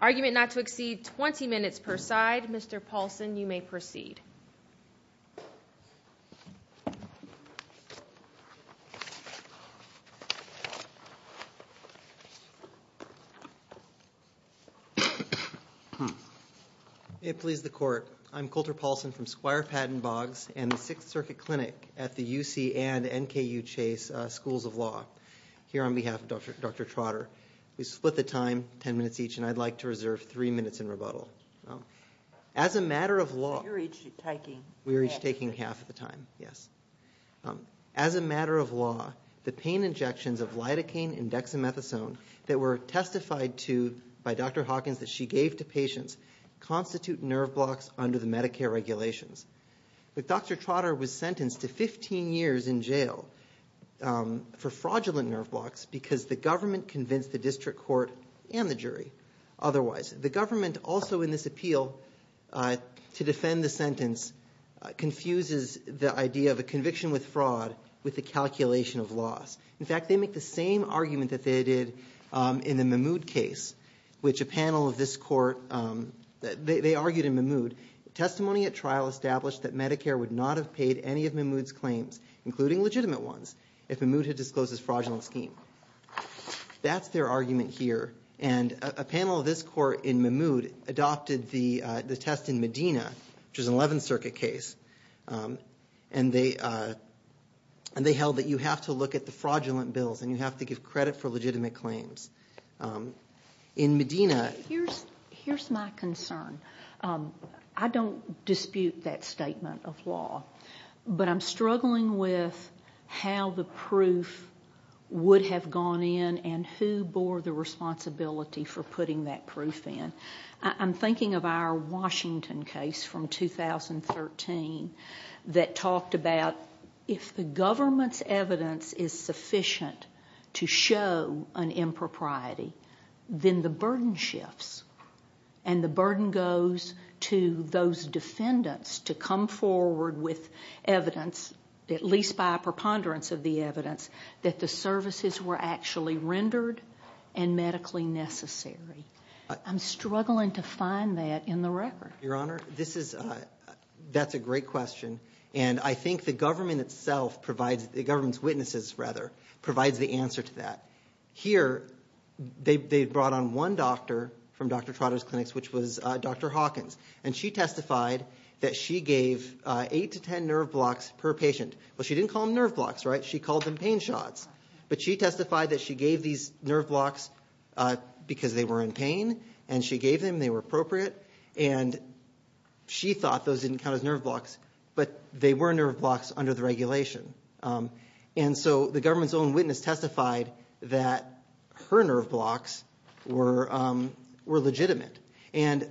Argument not to exceed 20 minutes per side. Mr. Paulson, you may proceed. May it please the Court, I'm Coulter Paulson from Squire Patton Boggs and the Sixth Circuit Clinic at the UC and NKU Chase Schools of Law. Here on behalf of Dr. Trotter, we split the time ten minutes each and I'd like to reserve three minutes in rebuttal. As a matter of law, the pain injections of lidocaine and dexamethasone that were testified to by Dr. Hawkins that she gave to patients constitute nerve blocks under the Medicare regulations. Dr. Trotter was sentenced to 15 years in jail for fraudulent nerve blocks because the government convinced the district court and the jury otherwise. The government also in this appeal to defend the sentence confuses the idea of a conviction with fraud with the calculation of loss. In fact, they make the same argument that they did in the Mahmoud case, which a panel of this court, they argued in Mahmoud, testimony at trial established that Medicare would not have paid any of Mahmoud's claims, including legitimate ones, if Mahmoud had disclosed this fraudulent scheme. That's their argument here. And a panel of this court in Mahmoud adopted the test in Medina, which is an Eleventh Circuit case. And they held that you have to look at the fraudulent bills and you have to give credit for legitimate claims. In Medina... And who bore the responsibility for putting that proof in? I'm thinking of our Washington case from 2013 that talked about if the government's evidence is sufficient to show an impropriety, then the burden shifts. And the burden goes to those defendants to come forward with evidence, at least by a preponderance of the evidence, that the services were actually rendered and medically necessary. I'm struggling to find that in the record. Your Honor, that's a great question. And I think the government itself provides, the government's witnesses, rather, provides the answer to that. Here, they brought on one doctor from Dr. Trotter's clinics, which was Dr. Hawkins. And she testified that she gave eight to ten nerve blocks per patient. Well, she didn't call them nerve blocks, right? She called them pain shots. But she testified that she gave these nerve blocks because they were in pain, and she gave them, they were appropriate. And she thought those didn't count as nerve blocks, but they were nerve blocks under the regulation. And so the government's own witness testified that her nerve blocks were legitimate. And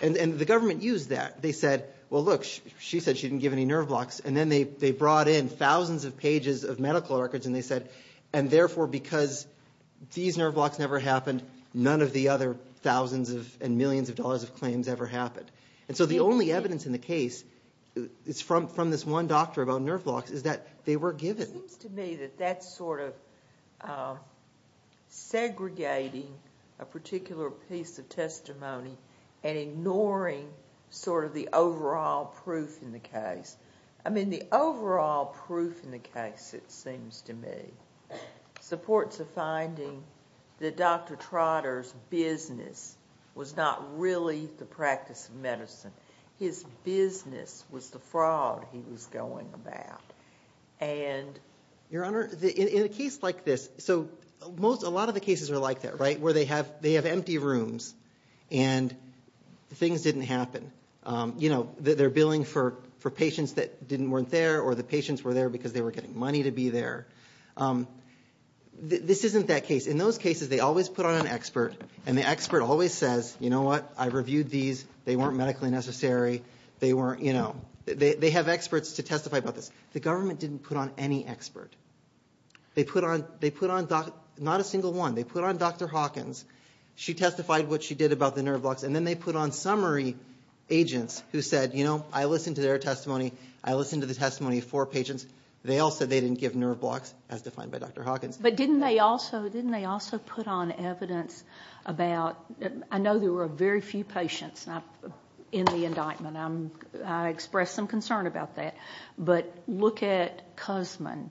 the government used that. They said, well, look, she said she didn't give any nerve blocks. And then they brought in thousands of pages of medical records, and they said, and therefore, because these nerve blocks never happened, none of the other thousands and millions of dollars of claims ever happened. And so the only evidence in the case, it's from this one doctor about nerve blocks, is that they were given. It seems to me that that's sort of segregating a particular piece of testimony and ignoring sort of the overall proof in the case. I mean, the overall proof in the case, it seems to me, supports a finding that Dr. Trotter's business was not really the practice of medicine. His business was the fraud he was going about. Your Honor, in a case like this, so a lot of the cases are like that, right, where they have empty rooms and things didn't happen. You know, they're billing for patients that weren't there or the patients were there because they were getting money to be there. This isn't that case. In those cases, they always put on an expert, and the expert always says, you know what, I reviewed these, they weren't medically necessary, they weren't, you know, they have experts to testify about this. The government didn't put on any expert. They put on, not a single one, they put on Dr. Hawkins, she testified what she did about the nerve blocks, and then they put on summary agents who said, you know, I listened to their testimony, I listened to the testimony of four patients, they all said they didn't give nerve blocks as defined by Dr. Hawkins. But didn't they also put on evidence about, I know there were very few patients in the indictment, I express some concern about that, but look at Cusman,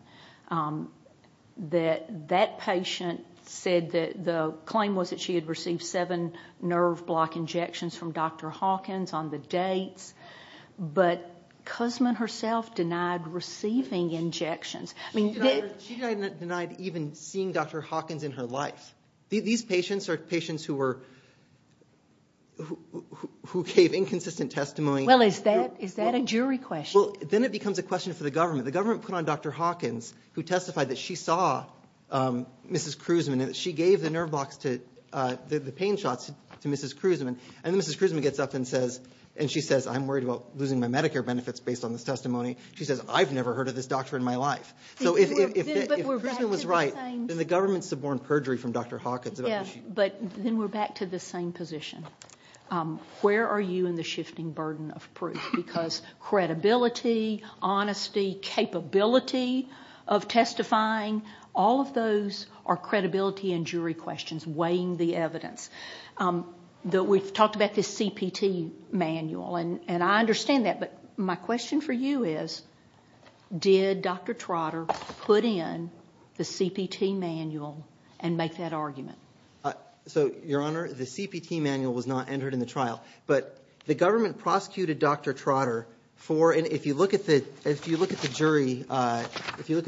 that that patient said that the claim was that she had received seven nerve block injections from Dr. Hawkins on the dates, but Cusman herself denied receiving injections. She denied even seeing Dr. Hawkins in her life. These patients are patients who were, who gave inconsistent testimony. Well, is that a jury question? Well, then it becomes a question for the government. The government put on Dr. Hawkins, who testified that she saw Mrs. Cusman and that she gave the nerve blocks to, the pain shots to Mrs. Cusman, and then Mrs. Cusman gets up and says, and she says, I'm worried about losing my Medicare benefits based on this testimony. She says, I've never heard of this doctor in my life. So if Cusman was right, then the government suborned perjury from Dr. Hawkins. But then we're back to the same position. Where are you in the shifting burden of proof? Because credibility, honesty, capability of testifying, all of those are credibility and jury questions, weighing the evidence. We've talked about this CPT manual, and I understand that, but my question for you is, did Dr. Trotter put in the CPT manual and make that argument? So, Your Honor, the CPT manual was not entered in the trial, but the government prosecuted Dr. Trotter for, and if you look at the jury, if you look at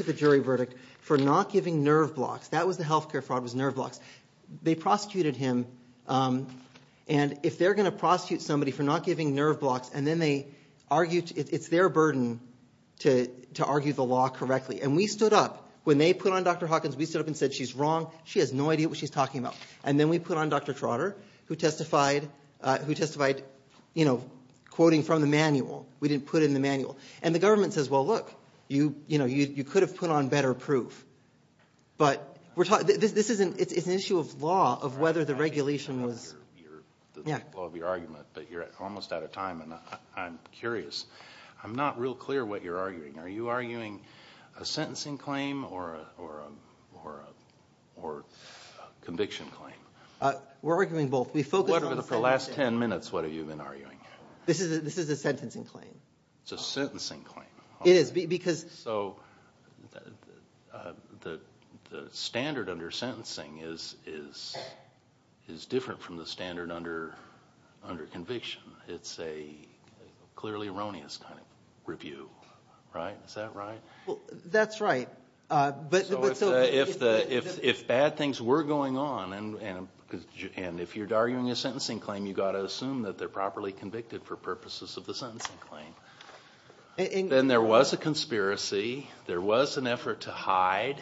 the jury verdict, for not giving nerve blocks. That was the healthcare fraud, was nerve blocks. They prosecuted him, and if they're going to prosecute somebody for not giving nerve blocks, and then they argue, it's their burden to argue the law correctly. And we stood up. When they put on Dr. Hawkins, we stood up and said, she's wrong. She has no idea what she's talking about. And then we put on Dr. Trotter, who testified, you know, quoting from the manual. We didn't put in the manual. And the government says, well, look, you could have put on better proof. But we're talking, this is an issue of law, of whether the regulation was. Yeah. The law of your argument, but you're almost out of time, and I'm curious. I'm not real clear what you're arguing. Are you arguing a sentencing claim or a conviction claim? We're arguing both. We focused on the sentencing. For the last ten minutes, what have you been arguing? This is a sentencing claim. It's a sentencing claim. It is, because. So the standard under sentencing is different from the standard under conviction. It's a clearly erroneous kind of review, right? Is that right? Well, that's right. So if bad things were going on, and if you're arguing a sentencing claim, you've got to assume that they're properly convicted for purposes of the sentencing claim. Then there was a conspiracy. There was an effort to hide.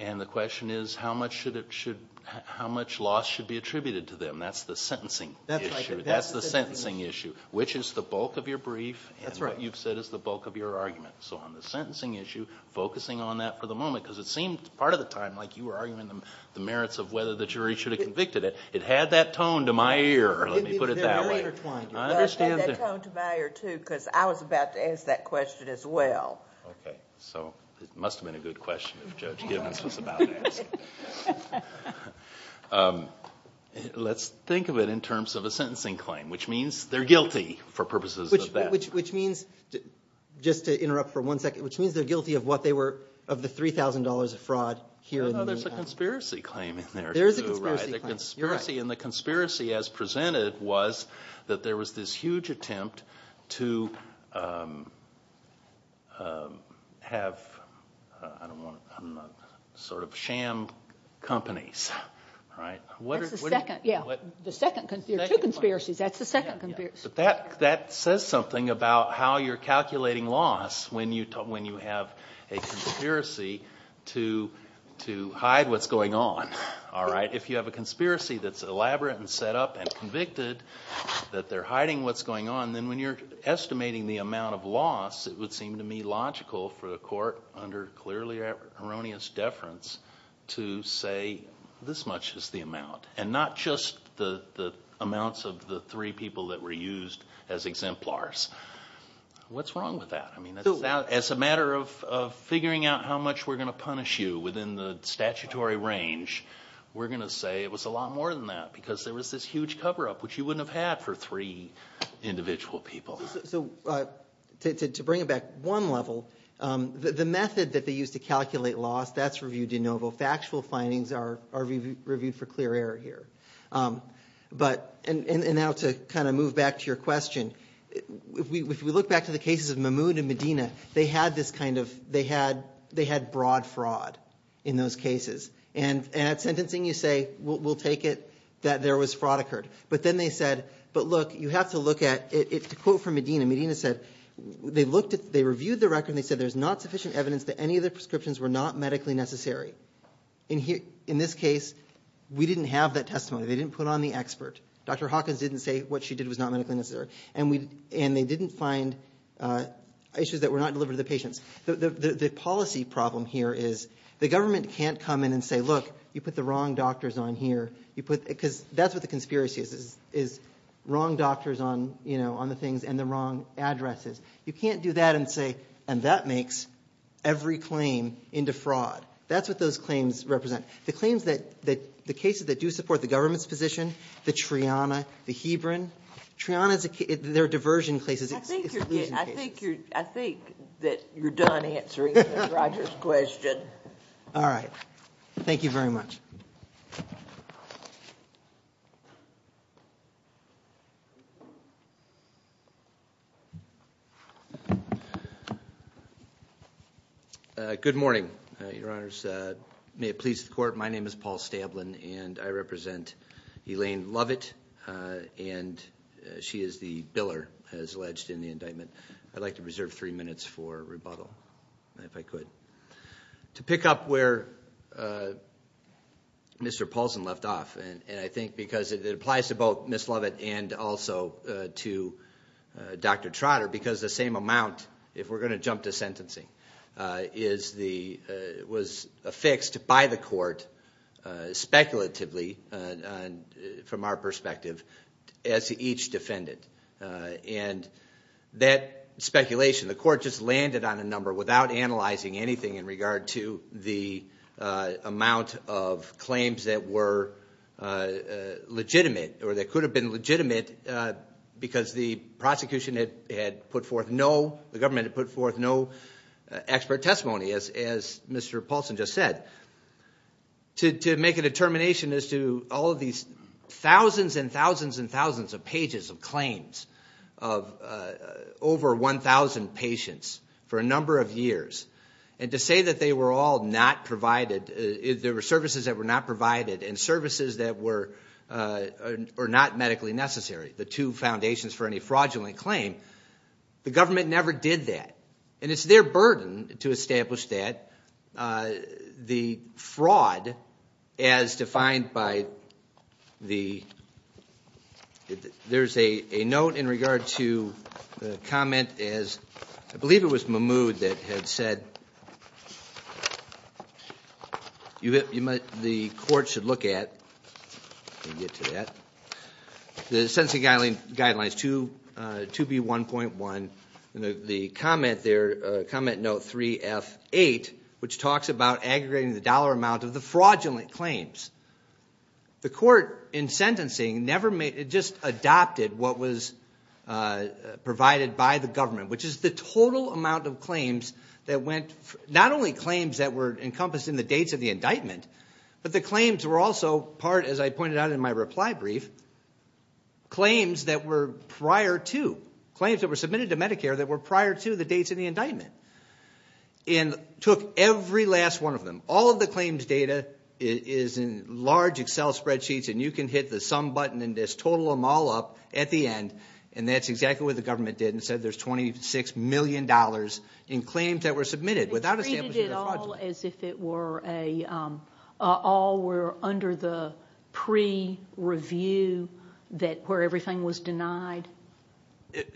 And the question is, how much loss should be attributed to them? That's the sentencing issue. That's the sentencing issue, which is the bulk of your brief, and what you've said is the bulk of your argument. So on the sentencing issue, focusing on that for the moment, because it seemed part of the time like you were arguing the merits of whether the jury should have convicted it. It had that tone to my ear, let me put it that way. It had that tone to my ear, too, because I was about to ask that question as well. Okay. So it must have been a good question if Judge Gibbons was about to ask it. Let's think of it in terms of a sentencing claim, which means they're guilty for purposes of that. Which means, just to interrupt for one second, which means they're guilty of the $3,000 of fraud here in New York. No, there's a conspiracy claim in there, too, right? There is a conspiracy claim. And the conspiracy as presented was that there was this huge attempt to have, I don't want to, I don't know, sort of sham companies, right? That's the second. Yeah, the second. There are two conspiracies. That's the second conspiracy. But that says something about how you're calculating loss when you have a conspiracy to hide what's going on, all right? If you have a conspiracy that's elaborate and set up and convicted, that they're hiding what's going on, then when you're estimating the amount of loss, it would seem to me logical for the court, under clearly erroneous deference, to say this much is the amount, and not just the amounts of the three people that were used as exemplars. What's wrong with that? I mean, as a matter of figuring out how much we're going to punish you within the statutory range, we're going to say it was a lot more than that because there was this huge cover-up, which you wouldn't have had for three individual people. So to bring it back one level, the method that they used to calculate loss, that's reviewed de novo. Factual findings are reviewed for clear error here. And now to kind of move back to your question, if we look back to the cases of Mahmoud and Medina, they had broad fraud in those cases. And at sentencing you say, we'll take it that there was fraud occurred. But then they said, but look, you have to look at it. To quote from Medina, Medina said, they reviewed the record and they said there's not sufficient evidence that any of the prescriptions were not medically necessary. In this case, we didn't have that testimony. They didn't put on the expert. Dr. Hawkins didn't say what she did was not medically necessary. And they didn't find issues that were not delivered to the patients. The policy problem here is the government can't come in and say, look, you put the wrong doctors on here. Because that's what the conspiracy is, is wrong doctors on the things and the wrong addresses. You can't do that and say, and that makes every claim into fraud. That's what those claims represent. The cases that do support the government's position, the Triana, the Hebron. Triana, they're diversion cases. I think that you're done answering Mr. Rogers' question. All right. Thank you very much. May it please the Court. My name is Paul Stablen, and I represent Elaine Lovett. And she is the biller, as alleged, in the indictment. I'd like to reserve three minutes for rebuttal, if I could. To pick up where Mr. Paulson left off, and I think because it applies to both Ms. Lovett and also to Dr. Trotter, because the same amount, if we're going to jump to sentencing, was affixed by the court, speculatively, from our perspective, as each defendant. And that speculation, the court just landed on a number, without analyzing anything in regard to the amount of claims that were legitimate, or that could have been legitimate, because the prosecution had put forth no, the government had put forth no expert testimony, as Mr. Paulson just said. To make a determination as to all of these thousands and thousands and thousands of pages of claims of over 1,000 patients for a number of years, and to say that they were all not provided, there were services that were not provided, and services that were not medically necessary, the two foundations for any fraudulent claim, the government never did that. And it's their burden to establish that. The fraud, as defined by the, there's a note in regard to the comment as, I believe it was Mahmoud that had said, the court should look at, get to that, the Sentencing Guidelines 2B1.1, the comment there, comment note 3F8, which talks about aggregating the dollar amount of the fraudulent claims. The court in sentencing never made, it just adopted what was provided by the government, which is the total amount of claims that went, not only claims that were encompassed in the dates of the indictment, but the claims were also part, as I pointed out in my reply brief, claims that were prior to, claims that were submitted to Medicare that were prior to the dates of the indictment, and took every last one of them. All of the claims data is in large Excel spreadsheets, and you can hit the sum button and just total them all up at the end, and that's exactly what the government did and said there's $26 million in claims that were submitted without establishing the fraud. All were under the pre-review where everything was denied?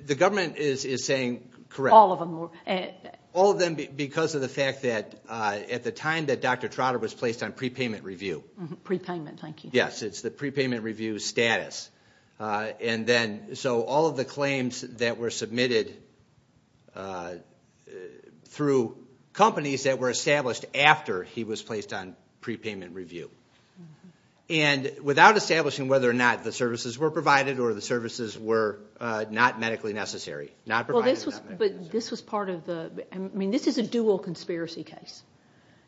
The government is saying correct. All of them were. All of them because of the fact that at the time that Dr. Trotter was placed on pre-payment review. Pre-payment, thank you. Yes, it's the pre-payment review status, and then so all of the claims that were submitted through companies that were established after he was placed on pre-payment review. And without establishing whether or not the services were provided or the services were not medically necessary, not provided. But this was part of the, I mean this is a dual conspiracy case.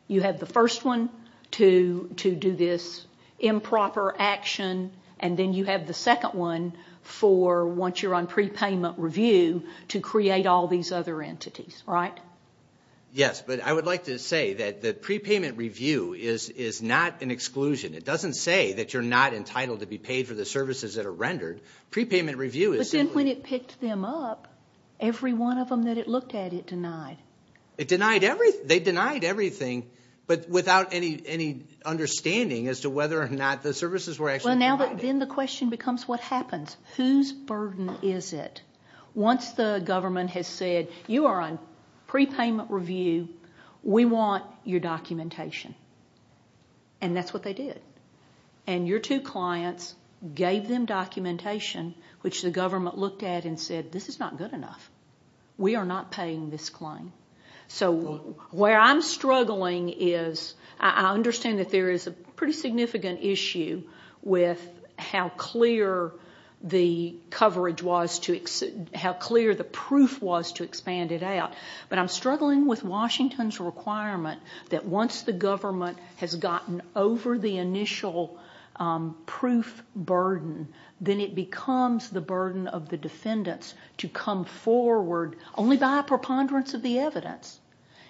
You have the first one to do this improper action, and then you have the second one for once you're on pre-payment review to create all these other entities, right? Yes, but I would like to say that the pre-payment review is not an exclusion. It doesn't say that you're not entitled to be paid for the services that are rendered. Pre-payment review is simply. But then when it picked them up, every one of them that it looked at, it denied. It denied everything. They denied everything but without any understanding as to whether or not the services were actually provided. Then the question becomes what happens? Whose burden is it? Once the government has said you are on pre-payment review, we want your documentation. And that's what they did. And your two clients gave them documentation, which the government looked at and said this is not good enough. We are not paying this claim. So where I'm struggling is I understand that there is a pretty significant issue with how clear the proof was to expand it out. But I'm struggling with Washington's requirement that once the government has gotten over the initial proof burden, then it becomes the burden of the defendants to come forward, only by a preponderance of the evidence,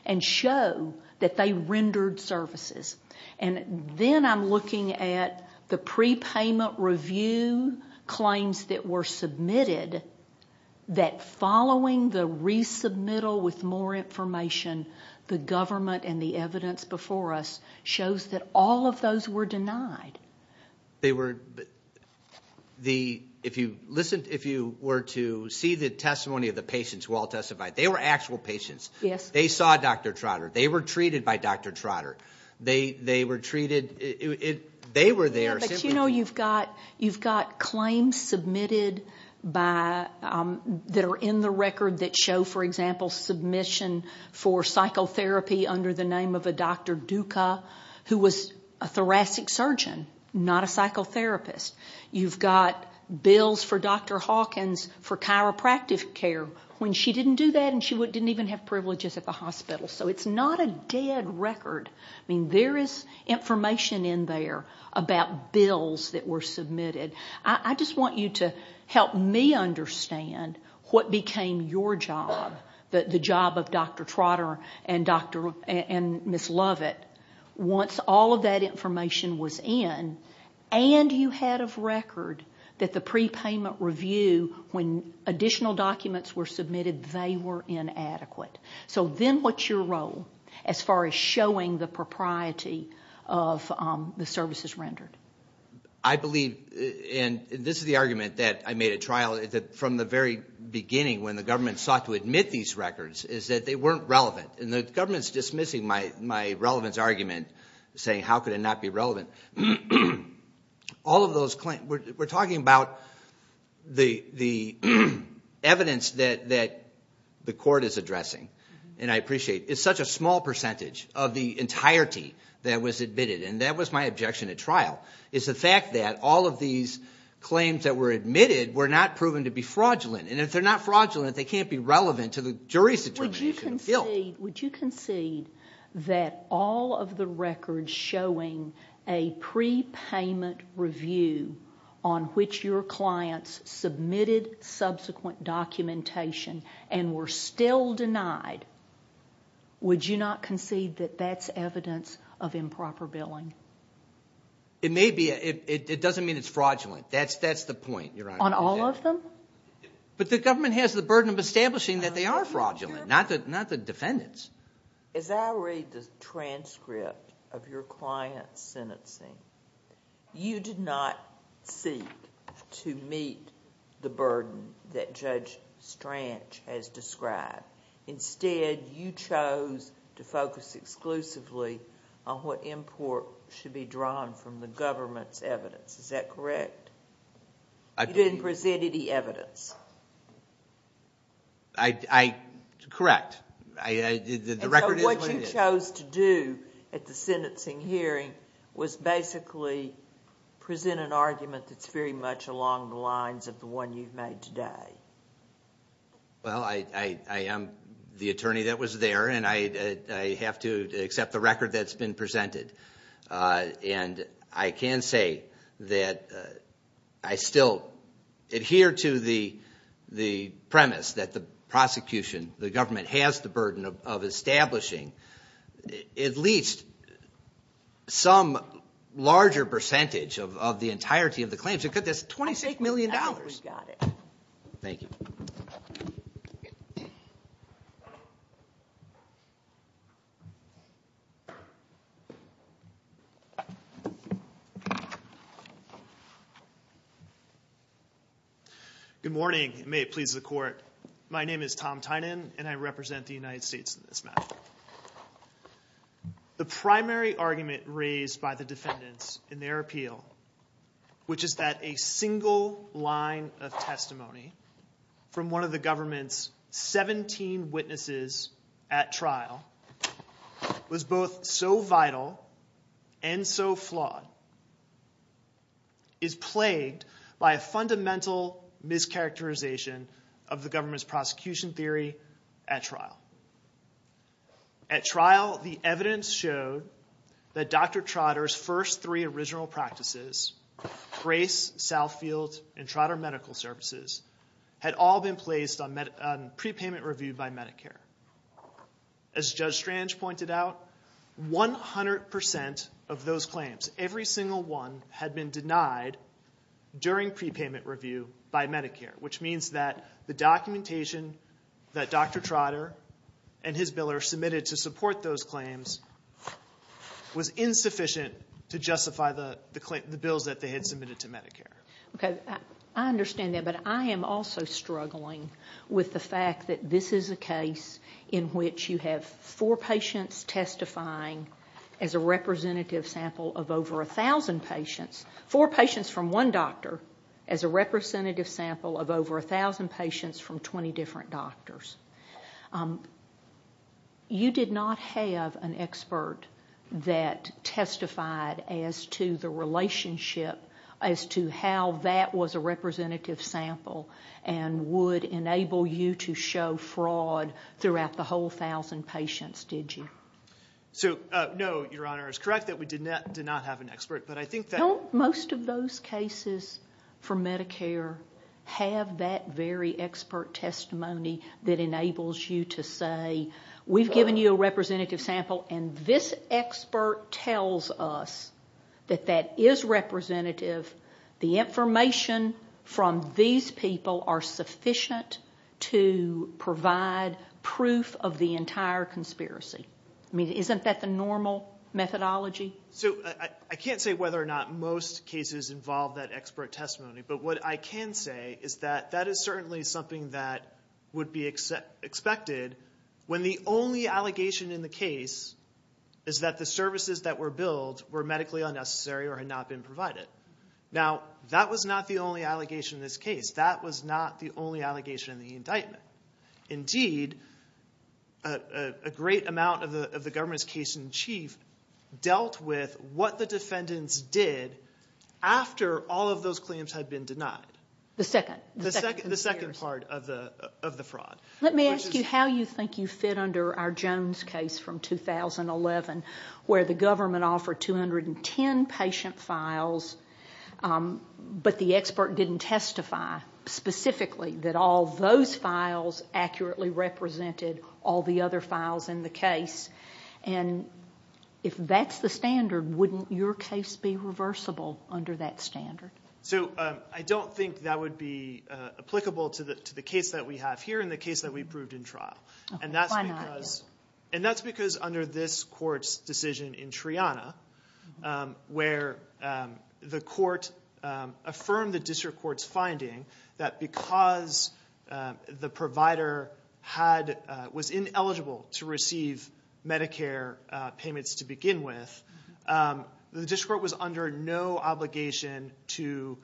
and show that they rendered services. Then I'm looking at the pre-payment review claims that were submitted, that following the resubmittal with more information, the government and the evidence before us shows that all of those were denied. If you were to see the testimony of the patients who all testified, they were actual patients. Yes. They saw Dr. Trotter. They were treated by Dr. Trotter. They were treated. They were there. But you know you've got claims submitted that are in the record that show, for example, submission for psychotherapy under the name of a Dr. Duca, who was a thoracic surgeon, not a psychotherapist. You've got bills for Dr. Hawkins for chiropractic care, when she didn't do that and she didn't even have privileges at the hospital. So it's not a dead record. I mean, there is information in there about bills that were submitted. I just want you to help me understand what became your job, the job of Dr. Trotter and Ms. Lovett, once all of that information was in, and you had a record that the pre-payment review, when additional documents were submitted, they were inadequate. So then what's your role as far as showing the propriety of the services rendered? I believe, and this is the argument that I made at trial, that from the very beginning when the government sought to admit these records, is that they weren't relevant. And the government is dismissing my relevance argument, saying how could it not be relevant. We're talking about the evidence that the court is addressing, and I appreciate it. It's such a small percentage of the entirety that was admitted, and that was my objection at trial, is the fact that all of these claims that were admitted were not proven to be fraudulent. And if they're not fraudulent, they can't be relevant to the jury's determination of guilt. Would you concede that all of the records showing a pre-payment review on which your clients submitted subsequent documentation and were still denied, would you not concede that that's evidence of improper billing? It may be. It doesn't mean it's fraudulent. That's the point, Your Honor. On all of them? But the government has the burden of establishing that they are fraudulent, not the defendants. As I read the transcript of your client's sentencing, you did not seek to meet the burden that Judge Stranch has described. Instead, you chose to focus exclusively on what import should be drawn from the government's evidence. Is that correct? You didn't present any evidence. Correct. What you chose to do at the sentencing hearing was basically present an argument that's very much along the lines of the one you've made today. Well, I am the attorney that was there, and I have to accept the record that's been presented. And I can say that I still adhere to the premise that the prosecution, the government has the burden of establishing at least some larger percentage of the entirety of the claims. That's $28 million. I think we've got it. Thank you. Good morning, and may it please the Court. My name is Tom Tynan, and I represent the United States in this matter. The primary argument raised by the defendants in their appeal, which is that a single line of testimony from one of the government's 17 witnesses at trial was both so vital and so flawed, is plagued by a fundamental mischaracterization of the government's prosecution theory at trial. At trial, the evidence showed that Dr. Trotter's first three original practices, Grace, Southfield, and Trotter Medical Services, had all been placed on prepayment review by Medicare. As Judge Strange pointed out, 100% of those claims, every single one, had been denied during prepayment review by Medicare, which means that the documentation that Dr. Trotter and his billers submitted to support those claims was insufficient to justify the bills that they had submitted to Medicare. Okay. I understand that, but I am also struggling with the fact that this is a case in which you have four patients testifying as a representative sample of over 1,000 patients, four patients from one doctor as a representative sample of over 1,000 patients from 20 different doctors. You did not have an expert that testified as to the relationship, as to how that was a representative sample and would enable you to show fraud throughout the whole 1,000 patients, did you? So, no, Your Honor, it's correct that we did not have an expert, but I think that... Don't most of those cases from Medicare have that very expert testimony that enables you to say, we've given you a representative sample and this expert tells us that that is representative. The information from these people are sufficient to provide proof of the entire conspiracy. I mean, isn't that the normal methodology? So, I can't say whether or not most cases involve that expert testimony, but what I can say is that that is certainly something that would be expected when the only allegation in the case is that the services that were billed were medically unnecessary or had not been provided. Now, that was not the only allegation in this case. That was not the only allegation in the indictment. Indeed, a great amount of the government's case in chief dealt with what the defendants did after all of those claims had been denied. The second. The second part of the fraud. Let me ask you how you think you fit under our Jones case from 2011 where the government offered 210 patient files, but the expert didn't testify specifically that all those files accurately represented all the other files in the case. If that's the standard, wouldn't your case be reversible under that standard? I don't think that would be applicable to the case that we have here and the case that we proved in trial. Why not? That's because under this court's decision in Triana where the court affirmed the district court's finding that because the provider was ineligible to receive Medicare payments to begin with, the district court was under no obligation to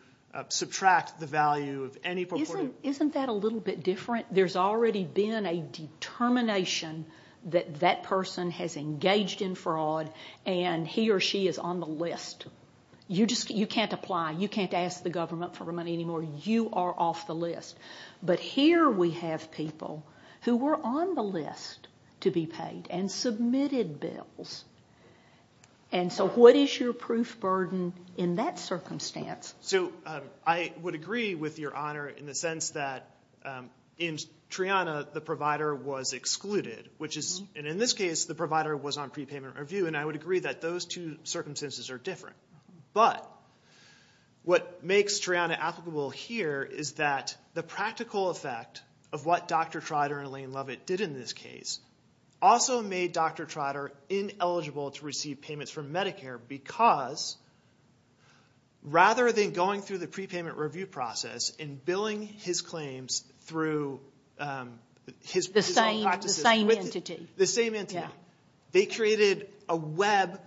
subtract the value of any purported Isn't that a little bit different? There's already been a determination that that person has engaged in fraud and he or she is on the list. You can't apply. You can't ask the government for money anymore. You are off the list. But here we have people who were on the list to be paid and submitted bills. So what is your proof burden in that circumstance? I would agree with Your Honor in the sense that in Triana the provider was excluded. In this case, the provider was on prepayment review, and I would agree that those two circumstances are different. But what makes Triana applicable here is that the practical effect of what Dr. Trotter and Elaine Lovett did in this case also made Dr. Trotter ineligible to receive payments from Medicare because rather than going through the prepayment review process and billing his claims through his personal practices. The same entity. The same entity. They created a web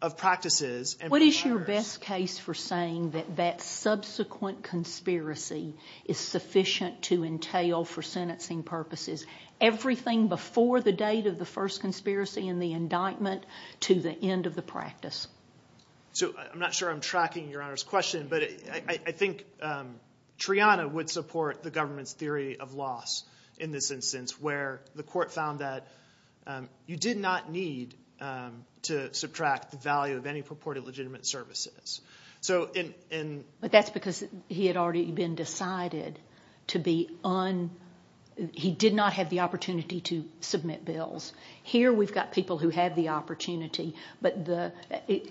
of practices. What is your best case for saying that that subsequent conspiracy is sufficient to entail for sentencing purposes everything before the date of the first conspiracy and the indictment to the end of the practice? I'm not sure I'm tracking Your Honor's question, but I think Triana would support the government's theory of loss in this instance where the court found that you did not need to subtract the value of any purported legitimate services. But that's because he had already been decided to be un- he did not have the opportunity to submit bills. Here we've got people who have the opportunity, but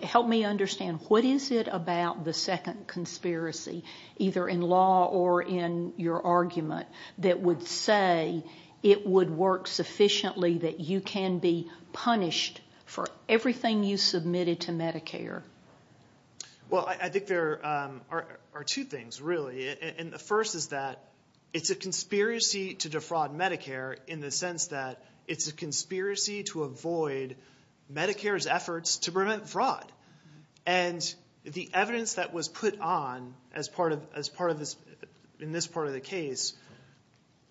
help me understand what is it about the second conspiracy, either in law or in your argument, that would say it would work sufficiently that you can be punished for everything you submitted to Medicare? Well, I think there are two things really. And the first is that it's a conspiracy to defraud Medicare in the sense that it's a conspiracy to avoid Medicare's efforts to prevent fraud. And the evidence that was put on in this part of the case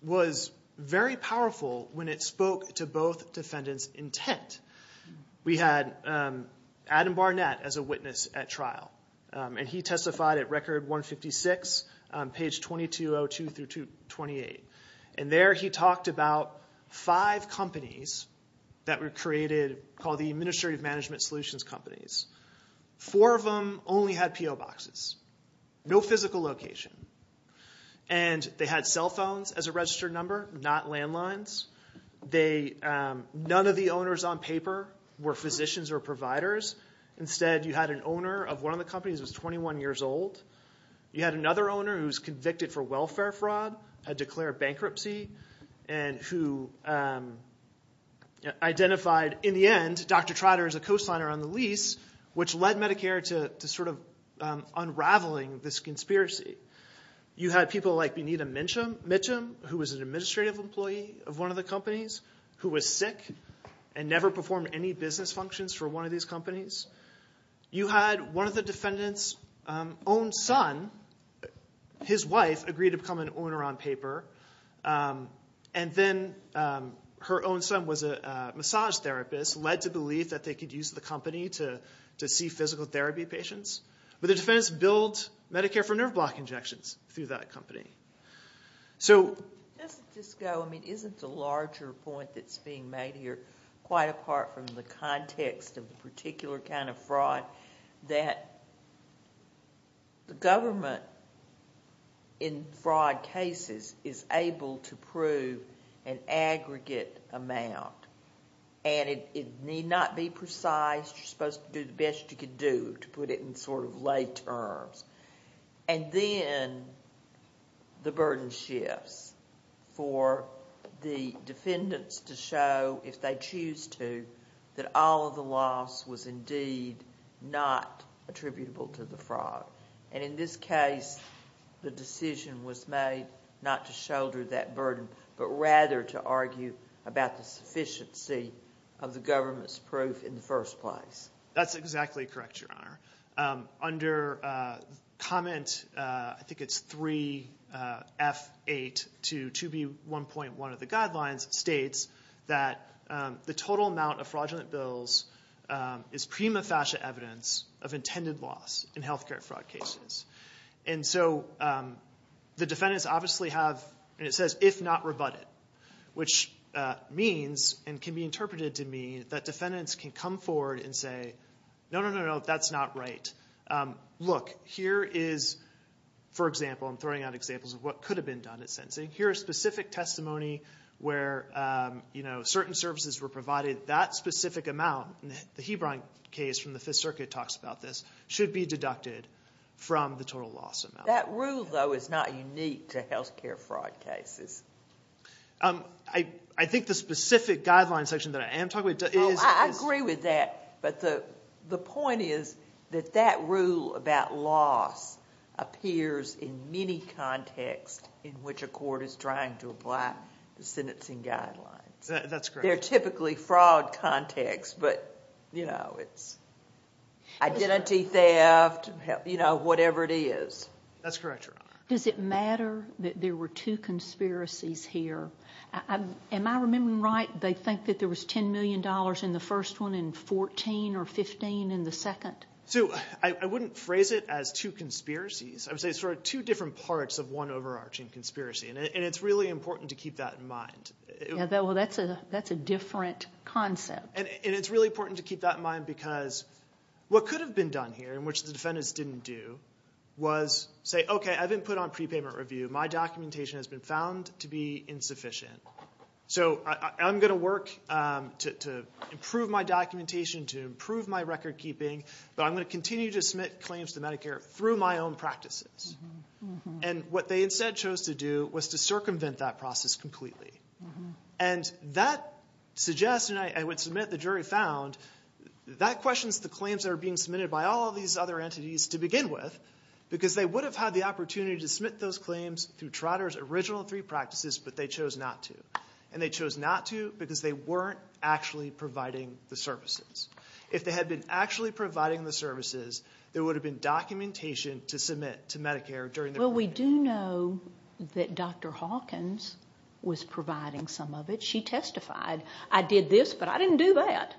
was very powerful when it spoke to both defendants' intent. We had Adam Barnett as a witness at trial, and he testified at Record 156, page 2202 through 228. And there he talked about five companies that were created, called the Administrative Management Solutions Companies. Four of them only had P.O. boxes, no physical location. And they had cell phones as a registered number, not landlines. None of the owners on paper were physicians or providers. Instead, you had an owner of one of the companies who was 21 years old. You had another owner who was convicted for welfare fraud, had declared bankruptcy, and who identified, in the end, Dr. Trotter as a coastliner on the lease, which led Medicare to sort of unraveling this conspiracy. You had people like Benita Mitcham, who was an administrative employee of one of the companies, who was sick and never performed any business functions for one of these companies. You had one of the defendants' own son, his wife, agreed to become an owner on paper. And then her own son was a massage therapist, led to believe that they could use the company to see physical therapy patients. But the defendants billed Medicare for nerve block injections through that company. So... Doesn't this go, I mean, isn't the larger point that's being made here that the government, in fraud cases, is able to prove an aggregate amount, and it need not be precise, you're supposed to do the best you could do to put it in sort of lay terms. And then the burden shifts for the defendants to show, if they choose to, that all of the loss was indeed not attributable to the fraud. And in this case, the decision was made not to shoulder that burden, but rather to argue about the sufficiency of the government's proof in the first place. That's exactly correct, Your Honor. Under comment, I think it's 3F8 to 2B1.1 of the guidelines, states that the total amount of fraudulent bills is prima facie evidence of intended loss in health care fraud cases. And so the defendants obviously have, and it says, if not rebutted, which means, and can be interpreted to mean, that defendants can come forward and say, no, no, no, that's not right. Look, here is, for example, I'm throwing out examples of what could have been done. Here is specific testimony where certain services were provided. That specific amount, the Hebron case from the Fifth Circuit talks about this, should be deducted from the total loss amount. That rule, though, is not unique to health care fraud cases. I think the specific guidelines section that I am talking about is... I agree with that, but the point is that that rule about loss appears in many contexts in which a court is trying to apply the sentencing guidelines. That's correct. They're typically fraud contexts, but it's identity theft, whatever it is. That's correct, Your Honor. Does it matter that there were two conspiracies here? Am I remembering right, they think that there was $10 million in the first one and $14 million or $15 million in the second? Sue, I wouldn't phrase it as two conspiracies. I would say it's two different parts of one overarching conspiracy, and it's really important to keep that in mind. That's a different concept. It's really important to keep that in mind because what could have been done here, which the defendants didn't do, was say, okay, I've been put on prepayment review. My documentation has been found to be insufficient. So I'm going to work to improve my documentation, to improve my recordkeeping, but I'm going to continue to submit claims to Medicare through my own practices. What they instead chose to do was to circumvent that process completely. That suggests, and I would submit the jury found, that questions the claims that are being submitted by all these other entities to begin with because they would have had the opportunity to submit those claims through Trotter's original three practices, but they chose not to. And they chose not to because they weren't actually providing the services. If they had been actually providing the services, there would have been documentation to submit to Medicare during the period. Well, we do know that Dr. Hawkins was providing some of it. She testified. I did this, but I didn't do that.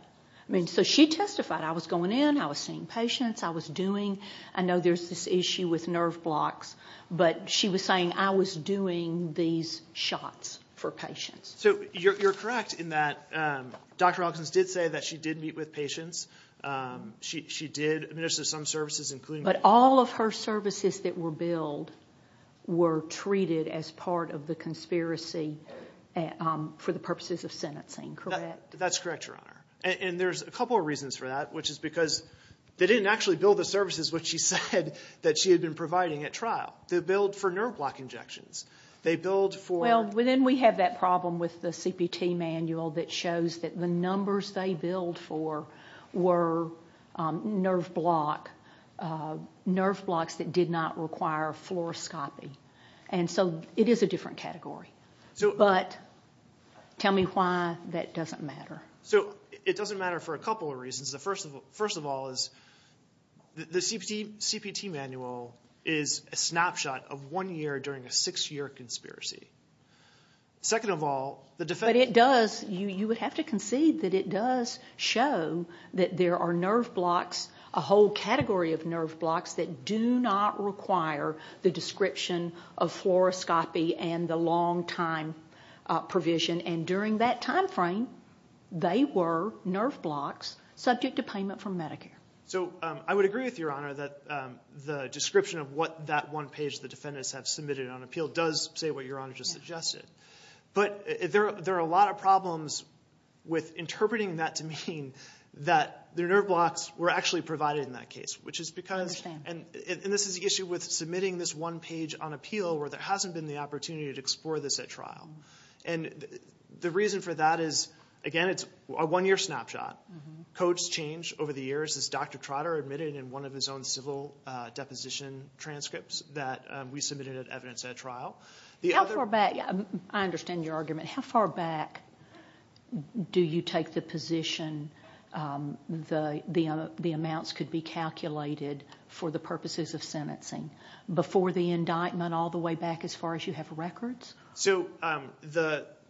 So she testified. I was going in. I was seeing patients. I was doing. I know there's this issue with nerve blocks, but she was saying I was doing these shots for patients. So you're correct in that Dr. Hawkins did say that she did meet with patients. She did administer some services, including— But all of her services that were billed were treated as part of the conspiracy for the purposes of sentencing, correct? That's correct, Your Honor. And there's a couple of reasons for that, which is because they didn't actually bill the services, which she said that she had been providing at trial. They billed for nerve block injections. They billed for— Well, then we have that problem with the CPT manual that shows that the numbers they billed for were nerve blocks that did not require fluoroscopy. And so it is a different category. But tell me why that doesn't matter. So it doesn't matter for a couple of reasons. The first of all is the CPT manual is a snapshot of one year during a six-year conspiracy. Second of all, the defense— But it does—you would have to concede that it does show that there are nerve blocks, a whole category of nerve blocks, that do not require the description of fluoroscopy and the long-time provision. And during that time frame, they were nerve blocks subject to payment from Medicare. So I would agree with Your Honor that the description of what that one page the defendants have submitted on appeal does say what Your Honor just suggested. But there are a lot of problems with interpreting that to mean that their nerve blocks were actually provided in that case, which is because— I understand. And this is the issue with submitting this one page on appeal where there hasn't been the opportunity to explore this at trial. And the reason for that is, again, it's a one-year snapshot. Codes change over the years, as Dr. Trotter admitted in one of his own civil deposition transcripts that we submitted at evidence at trial. How far back—I understand your argument. How far back do you take the position the amounts could be calculated for the purposes of sentencing? Before the indictment all the way back as far as you have records? So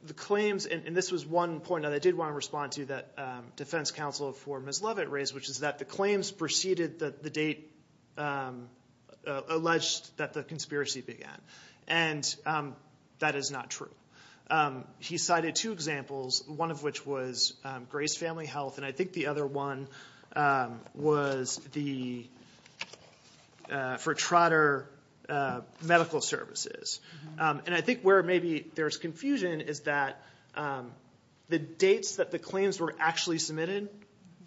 the claims—and this was one point that I did want to respond to that defense counsel for Ms. Leavitt raised, which is that the claims preceded the date alleged that the conspiracy began. And that is not true. He cited two examples, one of which was Gray's Family Health, and I think the other one was for Trotter Medical Services. And I think where maybe there's confusion is that the dates that the claims were actually submitted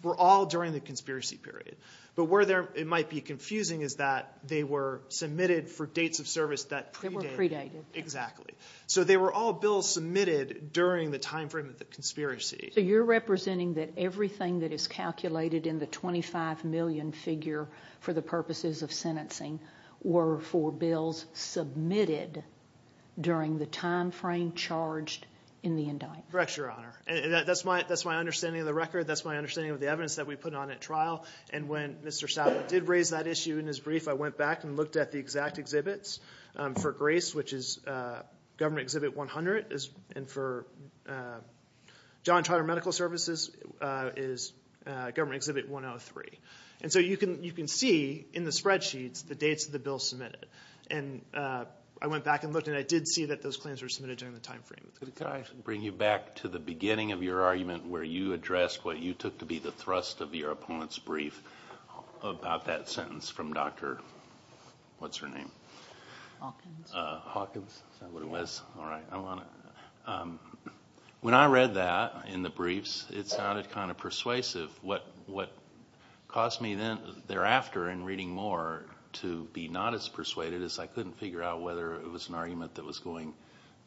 were all during the conspiracy period. But where it might be confusing is that they were submitted for dates of service that predated. They were predated. Exactly. So they were all bills submitted during the time frame of the conspiracy. So you're representing that everything that is calculated in the 25 million figure for the purposes of sentencing were for bills submitted during the time frame charged in the indictment. Correct, Your Honor. That's my understanding of the record. That's my understanding of the evidence that we put on at trial. And when Mr. Stout did raise that issue in his brief, I went back and looked at the exact exhibits. For Gray's, which is Government Exhibit 100, and for John Trotter Medical Services is Government Exhibit 103. And so you can see in the spreadsheets the dates of the bills submitted. And I went back and looked, and I did see that those claims were submitted during the time frame. Could I bring you back to the beginning of your argument where you addressed what you took to be the thrust of your opponent's brief about that sentence from Dr. what's her name? Hawkins. Hawkins. Is that what it was? Yes. All right. When I read that in the briefs, it sounded kind of persuasive. What caused me thereafter in reading more to be not as persuaded as I couldn't figure out whether it was an argument that was going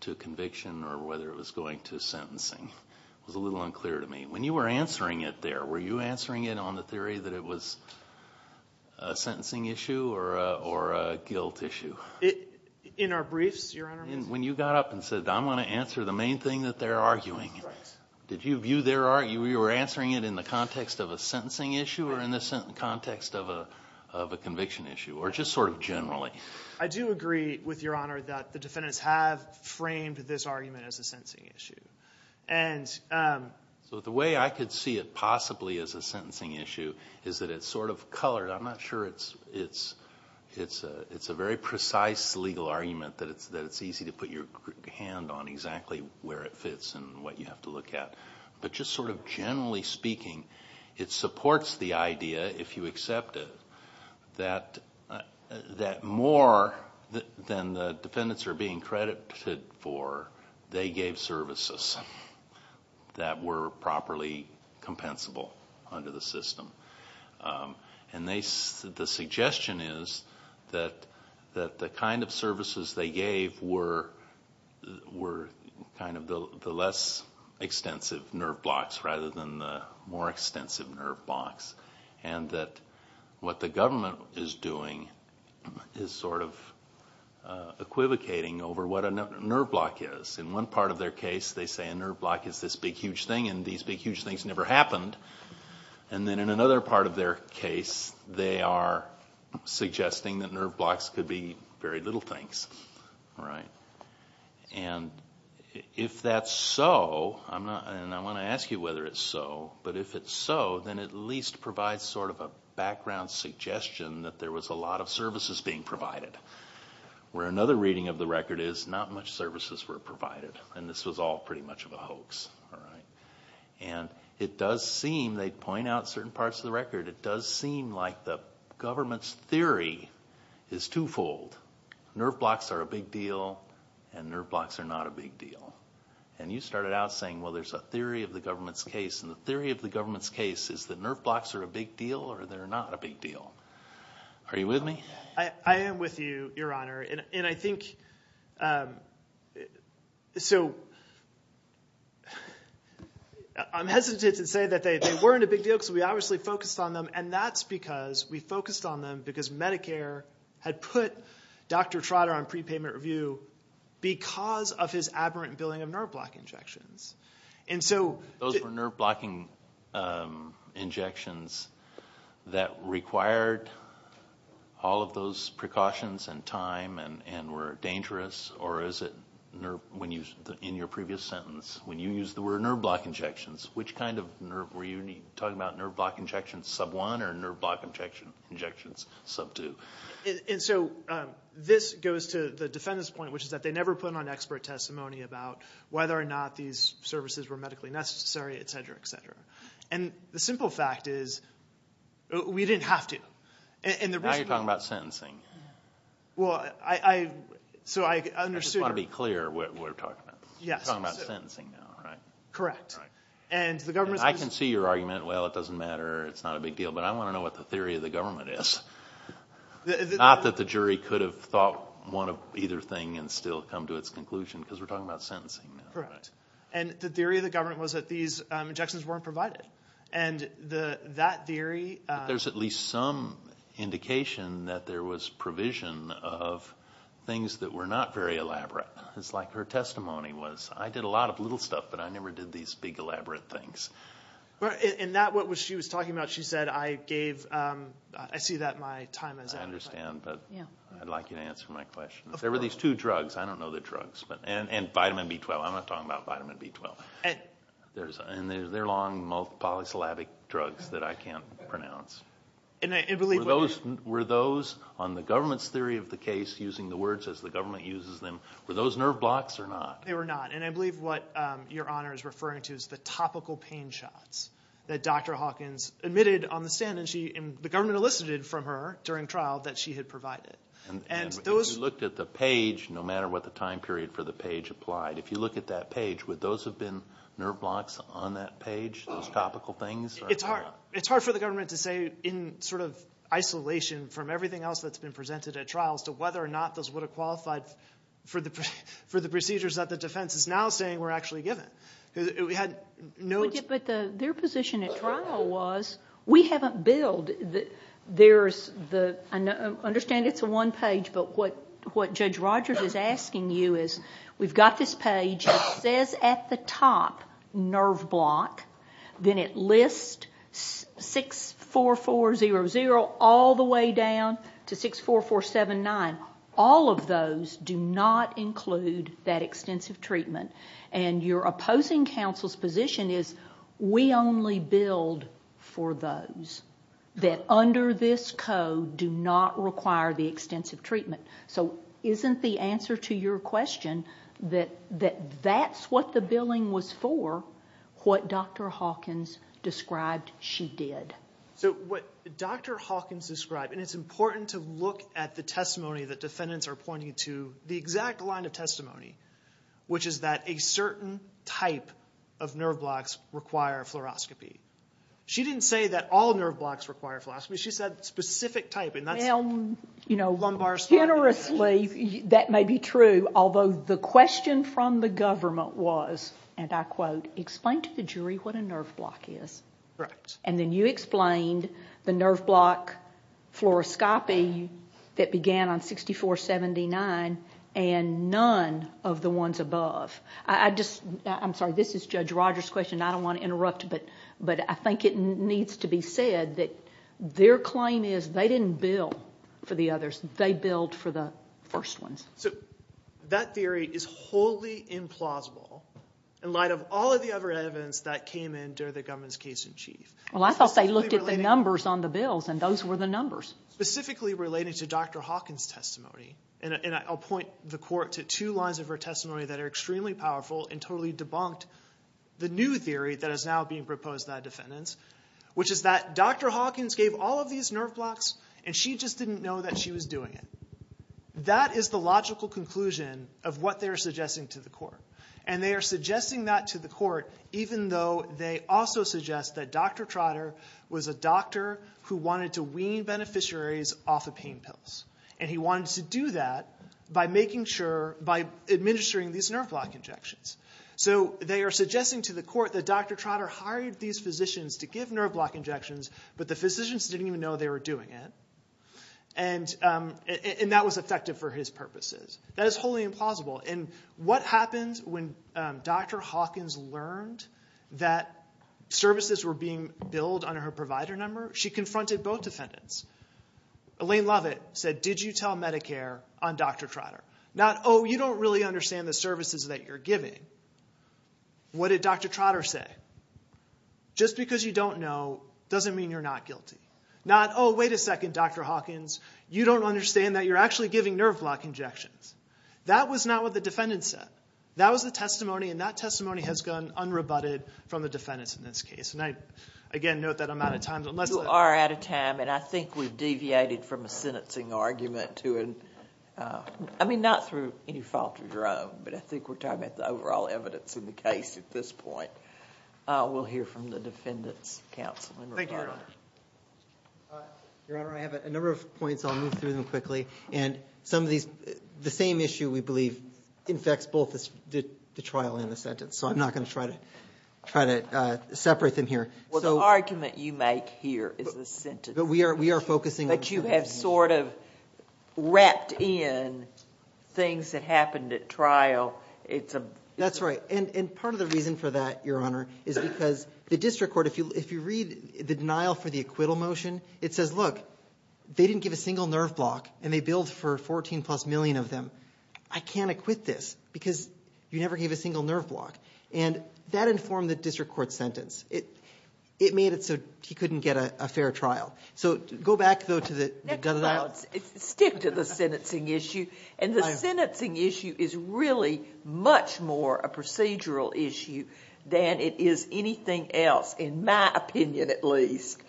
to conviction or whether it was going to sentencing. It was a little unclear to me. When you were answering it there, were you answering it on the theory that it was a sentencing issue or a guilt issue? In our briefs, Your Honor? When you got up and said, I'm going to answer the main thing that they're arguing. Did you view their argument? Were you answering it in the context of a sentencing issue or in the context of a conviction issue or just sort of generally? I do agree with Your Honor that the defendants have framed this argument as a sentencing issue. The way I could see it possibly as a sentencing issue is that it's sort of colored. I'm not sure it's a very precise legal argument that it's easy to put your hand on exactly where it fits and what you have to look at. But just sort of generally speaking, it supports the idea, if you accept it, that more than the defendants are being credited for, they gave services that were properly compensable under the system. And the suggestion is that the kind of services they gave were kind of the less extensive nerve blocks rather than the more extensive nerve blocks and that what the government is doing is sort of equivocating over what a nerve block is. In one part of their case, they say a nerve block is this big, huge thing and these big, huge things never happened. And then in another part of their case, they are suggesting that nerve blocks could be very little things. And if that's so, and I want to ask you whether it's so, but if it's so, then it at least provides sort of a background suggestion that there was a lot of services being provided. Where another reading of the record is not much services were provided and this was all pretty much of a hoax. And it does seem, they point out certain parts of the record, it does seem like the government's theory is twofold. Nerve blocks are a big deal and nerve blocks are not a big deal. And you started out saying, well, there's a theory of the government's case and the theory of the government's case is that nerve blocks are a big deal or they're not a big deal. Are you with me? I am with you, Your Honor. And I think, so I'm hesitant to say that they weren't a big deal because we obviously focused on them and that's because we focused on them because Medicare had put Dr. Trotter on prepayment review because of his aberrant billing of nerve block injections. Those were nerve blocking injections that required all of those precautions and time and were dangerous. Or is it, in your previous sentence, when you used the word nerve block injections, which kind of nerve, were you talking about nerve block injections sub one or nerve block injections sub two? And so this goes to the defendant's point, which is that they never put on expert testimony about whether or not these services were medically necessary, et cetera, et cetera. And the simple fact is we didn't have to. Now you're talking about sentencing. Well, I understood. I just want to be clear what we're talking about. We're talking about sentencing now, right? Correct. I can see your argument, well, it doesn't matter, it's not a big deal, but I want to know what the theory of the government is. Not that the jury could have thought one of either thing and still come to its conclusion because we're talking about sentencing now. Correct. And the theory of the government was that these injections weren't provided. And that theory. There's at least some indication that there was provision of things that were not very elaborate. It's like her testimony was, I did a lot of little stuff, but I never did these big elaborate things. And that, what she was talking about, she said, I gave, I see that my time is up. I understand, but I'd like you to answer my question. There were these two drugs, I don't know the drugs, and vitamin B12. I'm not talking about vitamin B12. And they're long polysyllabic drugs that I can't pronounce. Were those, on the government's theory of the case, using the words as the government uses them, were those nerve blocks or not? They were not. And I believe what Your Honor is referring to is the topical pain shots that Dr. Hawkins admitted on the stand, and the government elicited from her during trial that she had provided. And if you looked at the page, no matter what the time period for the page applied, if you look at that page, would those have been nerve blocks on that page, those topical things? It's hard for the government to say in sort of isolation from everything else that's been presented at trial as to whether or not those would have qualified for the procedures that the defense is now saying were actually given. But their position at trial was, we haven't billed. There's the, I understand it's a one page, but what Judge Rogers is asking you is, we've got this page that says at the top, nerve block. Then it lists 64400 all the way down to 64479. All of those do not include that extensive treatment. And your opposing counsel's position is, we only billed for those that under this code do not require the extensive treatment. So isn't the answer to your question that that's what the billing was for, what Dr. Hawkins described she did? So what Dr. Hawkins described, and it's important to look at the testimony that defendants are pointing to, the exact line of testimony, which is that a certain type of nerve blocks require fluoroscopy. She didn't say that all nerve blocks require fluoroscopy. She said specific type, and that's lumbar spine. Generously, that may be true, although the question from the government was, and I quote, explain to the jury what a nerve block is. And then you explained the nerve block fluoroscopy that began on 6479, and none of the ones above. I'm sorry, this is Judge Rogers' question. I don't want to interrupt, but I think it needs to be said that their claim is they didn't bill for the others. They billed for the first ones. So that theory is wholly implausible in light of all of the other evidence that came in during the government's case in chief. Well, I thought they looked at the numbers on the bills, and those were the numbers. Specifically relating to Dr. Hawkins' testimony, and I'll point the court to two lines of her testimony that are extremely powerful and totally debunked the new theory that is now being proposed by defendants, which is that Dr. Hawkins gave all of these nerve blocks, and she just didn't know that she was doing it. That is the logical conclusion of what they are suggesting to the court, and they are suggesting that to the court even though they also suggest that Dr. Trotter was a doctor who wanted to wean beneficiaries off of pain pills, and he wanted to do that by administering these nerve block injections. So they are suggesting to the court that Dr. Trotter hired these physicians to give nerve block injections, but the physicians didn't even know they were doing it, and that was effective for his purposes. That is wholly implausible, and what happens when Dr. Hawkins learned that services were being billed under her provider number? She confronted both defendants. Elaine Lovett said, Did you tell Medicare on Dr. Trotter? Not, Oh, you don't really understand the services that you're giving. What did Dr. Trotter say? Just because you don't know doesn't mean you're not guilty. Not, Oh, wait a second, Dr. Hawkins, you don't understand that you're actually giving nerve block injections. That was not what the defendant said. That was the testimony, and that testimony has gone unrebutted from the defendants in this case. Again, note that I'm out of time. You are out of time, and I think we've deviated from a sentencing argument to a, I mean, not through any fault of your own, but I think we're talking about the overall evidence in the case at this point. We'll hear from the defendants' counsel in regard to that. Thank you, Your Honor. Your Honor, I have a number of points. I'll move through them quickly, and some of these, the same issue, we believe, infects both the trial and the sentence, so I'm not going to try to separate them here. Well, the argument you make here is the sentence. But we are focusing on the sentence. But you have sort of wrapped in things that happened at trial. That's right, and part of the reason for that, Your Honor, is because the district court, if you read the denial for the acquittal motion, it says, look, they didn't give a single nerve block, and they billed for 14 plus million of them. I can't acquit this because you never gave a single nerve block, and that informed the district court's sentence. It made it so he couldn't get a fair trial. So go back, though, to the denial. Stick to the sentencing issue, and the sentencing issue is really much more a procedural issue than it is anything else, in my opinion at least.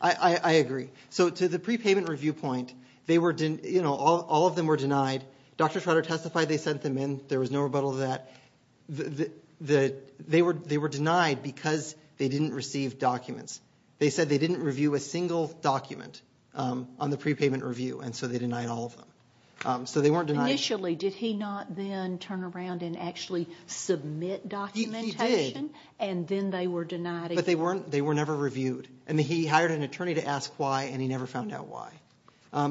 I agree. So to the prepayment review point, all of them were denied. Dr. Schroeder testified they sent them in. There was no rebuttal to that. They were denied because they didn't receive documents. They said they didn't review a single document on the prepayment review, and so they denied all of them. So they weren't denied. Initially, did he not then turn around and actually submit documentation? He did. And then they were denied again. But they were never reviewed, and he hired an attorney to ask why, and he never found out why.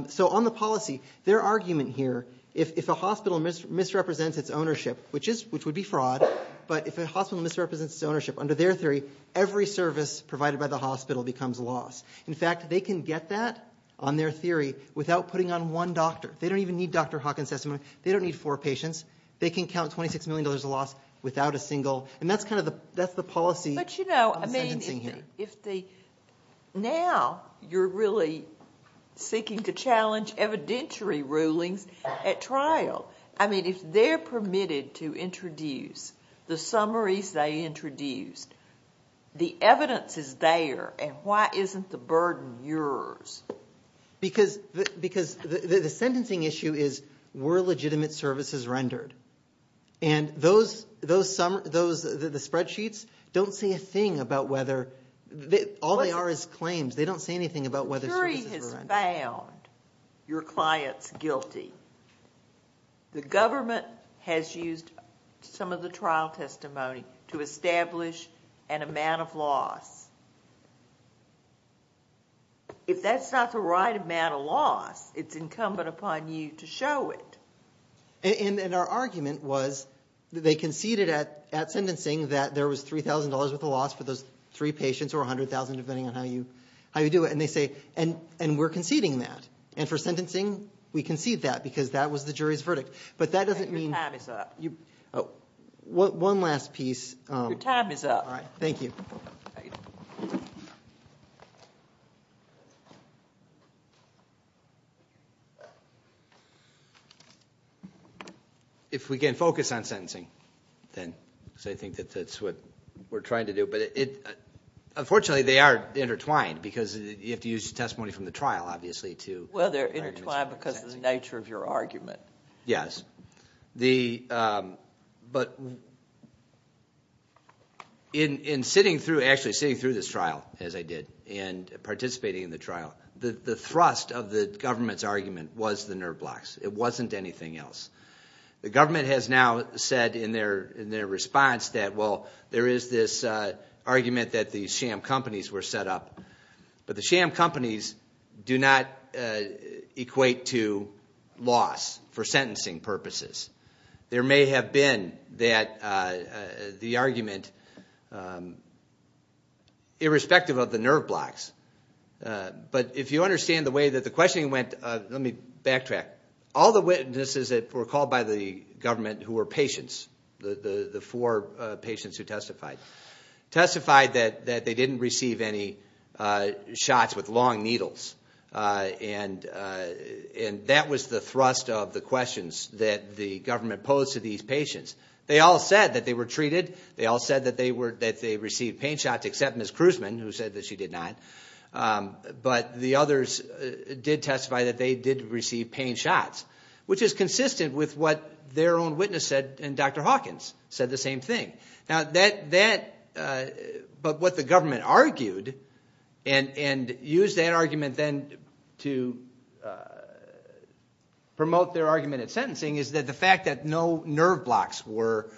So on the policy, their argument here, if a hospital misrepresents its ownership, which would be fraud, but if a hospital misrepresents its ownership, under their theory, every service provided by the hospital becomes a loss. In fact, they can get that on their theory without putting on one doctor. They don't even need Dr. Hawkins testimony. They don't need four patients. They can count $26 million of loss without a single. And that's kind of the policy of the sentencing here. Now, you're really seeking to challenge evidentiary rulings at trial. I mean, if they're permitted to introduce the summaries they introduced, the evidence is there, and why isn't the burden yours? Because the sentencing issue is were legitimate services rendered? And the spreadsheets don't say a thing about whether... All they are is claims. They don't say anything about whether services were rendered. The jury has found your clients guilty. The government has used some of the trial testimony to establish an amount of loss. If that's not the right amount of loss, it's incumbent upon you to show it. And our argument was they conceded at sentencing that there was $3,000 worth of loss for those three patients, or $100,000 depending on how you do it. And they say, and we're conceding that. And for sentencing, we concede that because that was the jury's verdict. But that doesn't mean... Your time is up. One last piece. Your time is up. All right, thank you. If we can focus on sentencing, because I think that's what we're trying to do. But unfortunately, they are intertwined because you have to use testimony from the trial, obviously. Well, they're intertwined because of the nature of your argument. Yes. But in sitting through this trial, as I did, and participating in the trial, the thrust of the government's argument was the nerve blocks. It wasn't anything else. The government has now said in their response that, well, there is this argument that the sham companies were set up. But the sham companies do not equate to loss for sentencing purposes. There may have been the argument, irrespective of the nerve blocks. But if you understand the way that the questioning went... Let me backtrack. All the witnesses that were called by the government who were patients, the four patients who testified, testified that they didn't receive any shots with long needles. And that was the thrust of the questions that the government posed to these patients. They all said that they were treated. They all said that they received pain shots, except Ms. Kruseman, who said that she did not. But the others did testify that they did receive pain shots, which is consistent with what their own witness said, and Dr. Hawkins said the same thing. But what the government argued, and used that argument then to promote their argument at sentencing, is that the fact that no nerve blocks were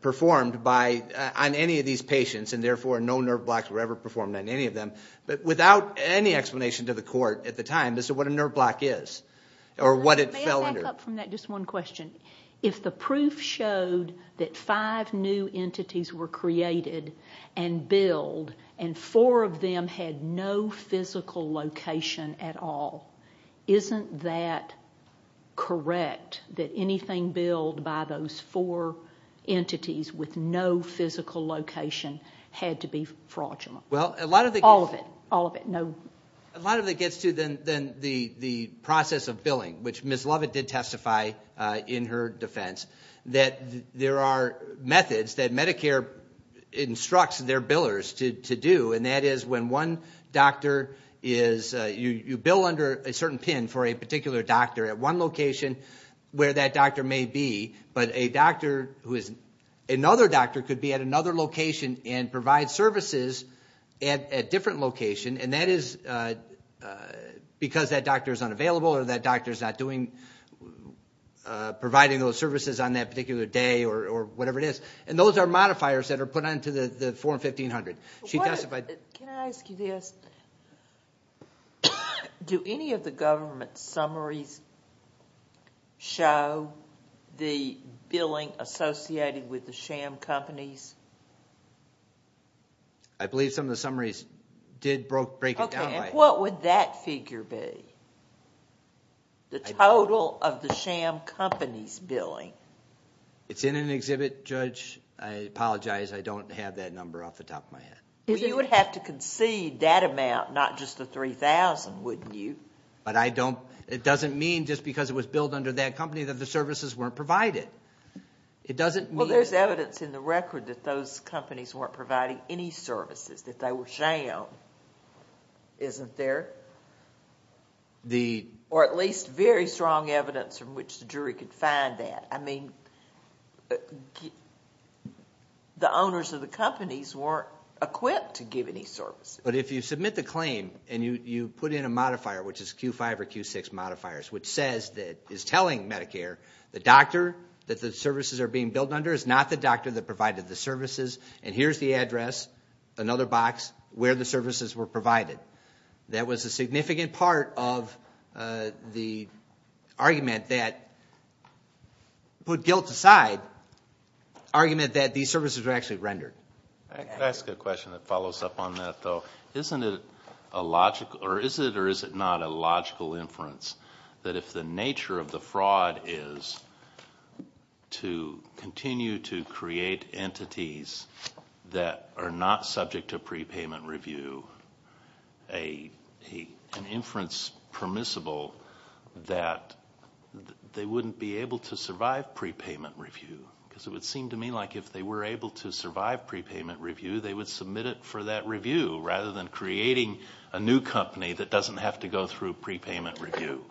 performed on any of these patients, and therefore no nerve blocks were ever performed on any of them, without any explanation to the court at the time, is what a nerve block is, or what it fell under. May I back up from that just one question? If the proof showed that five new entities were created and billed, and four of them had no physical location at all, isn't that correct, that anything billed by those four entities with no physical location had to be fraudulent? All of it, all of it. A lot of it gets to the process of billing, which Ms. Lovett did testify in her defense, that there are methods that Medicare instructs their billers to do, and that is when one doctor is... You bill under a certain pin for a particular doctor at one location where that doctor may be, but another doctor could be at another location and provide services at a different location, and that is because that doctor is unavailable or that doctor is not providing those services on that particular day, or whatever it is. And those are modifiers that are put onto the Form 1500. She testified... Can I ask you this? Do any of the government summaries show the billing associated with the sham companies? I believe some of the summaries did break it down by... Okay, and what would that figure be, the total of the sham companies' billing? It's in an exhibit, Judge. I apologize, I don't have that number off the top of my head. Well, you would have to concede that amount, not just the $3,000, wouldn't you? But I don't... It doesn't mean just because it was billed under that company that the services weren't provided. It doesn't mean... Well, there's evidence in the record that those companies weren't providing any services, that they were sham, isn't there? Or at least very strong evidence from which the jury could find that. I mean, the owners of the companies weren't equipped to give any services. But if you submit the claim and you put in a modifier, which is Q5 or Q6 modifiers, which is telling Medicare the doctor that the services are being billed under is not the doctor that provided the services, and here's the address, another box, where the services were provided. That was a significant part of the argument that put guilt aside, argument that these services were actually rendered. I could ask a question that follows up on that, though. Isn't it a logical... Or is it or is it not a logical inference that if the nature of the fraud is to continue to create entities that are not subject to prepayment review, an inference permissible that they wouldn't be able to survive prepayment review? Because it would seem to me like if they were able to survive prepayment review, they would submit it for that review rather than creating a new company that doesn't have to go through prepayment review.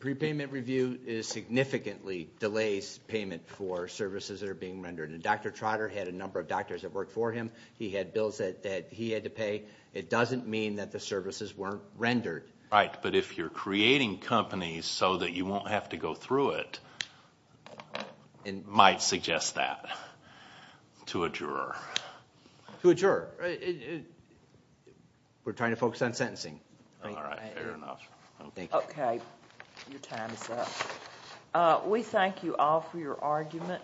Prepayment review significantly delays payment for services that are being rendered. And Dr. Trotter had a number of doctors that worked for him. He had bills that he had to pay. It doesn't mean that the services weren't rendered. Right, but if you're creating companies so that you won't have to go through it, I might suggest that to a juror. To a juror. We're trying to focus on sentencing. All right, fair enough. Okay, your time is up. We thank you all for your argument.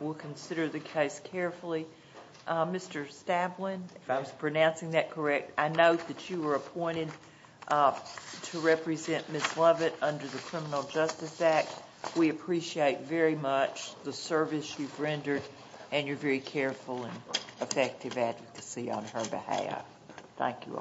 We'll consider the case carefully. Mr. Staplen, if I was pronouncing that correct, I note that you were appointed to represent Ms. Lovett under the Criminal Justice Act. We appreciate very much the service you've rendered and your very careful and effective advocacy on her behalf. Thank you all.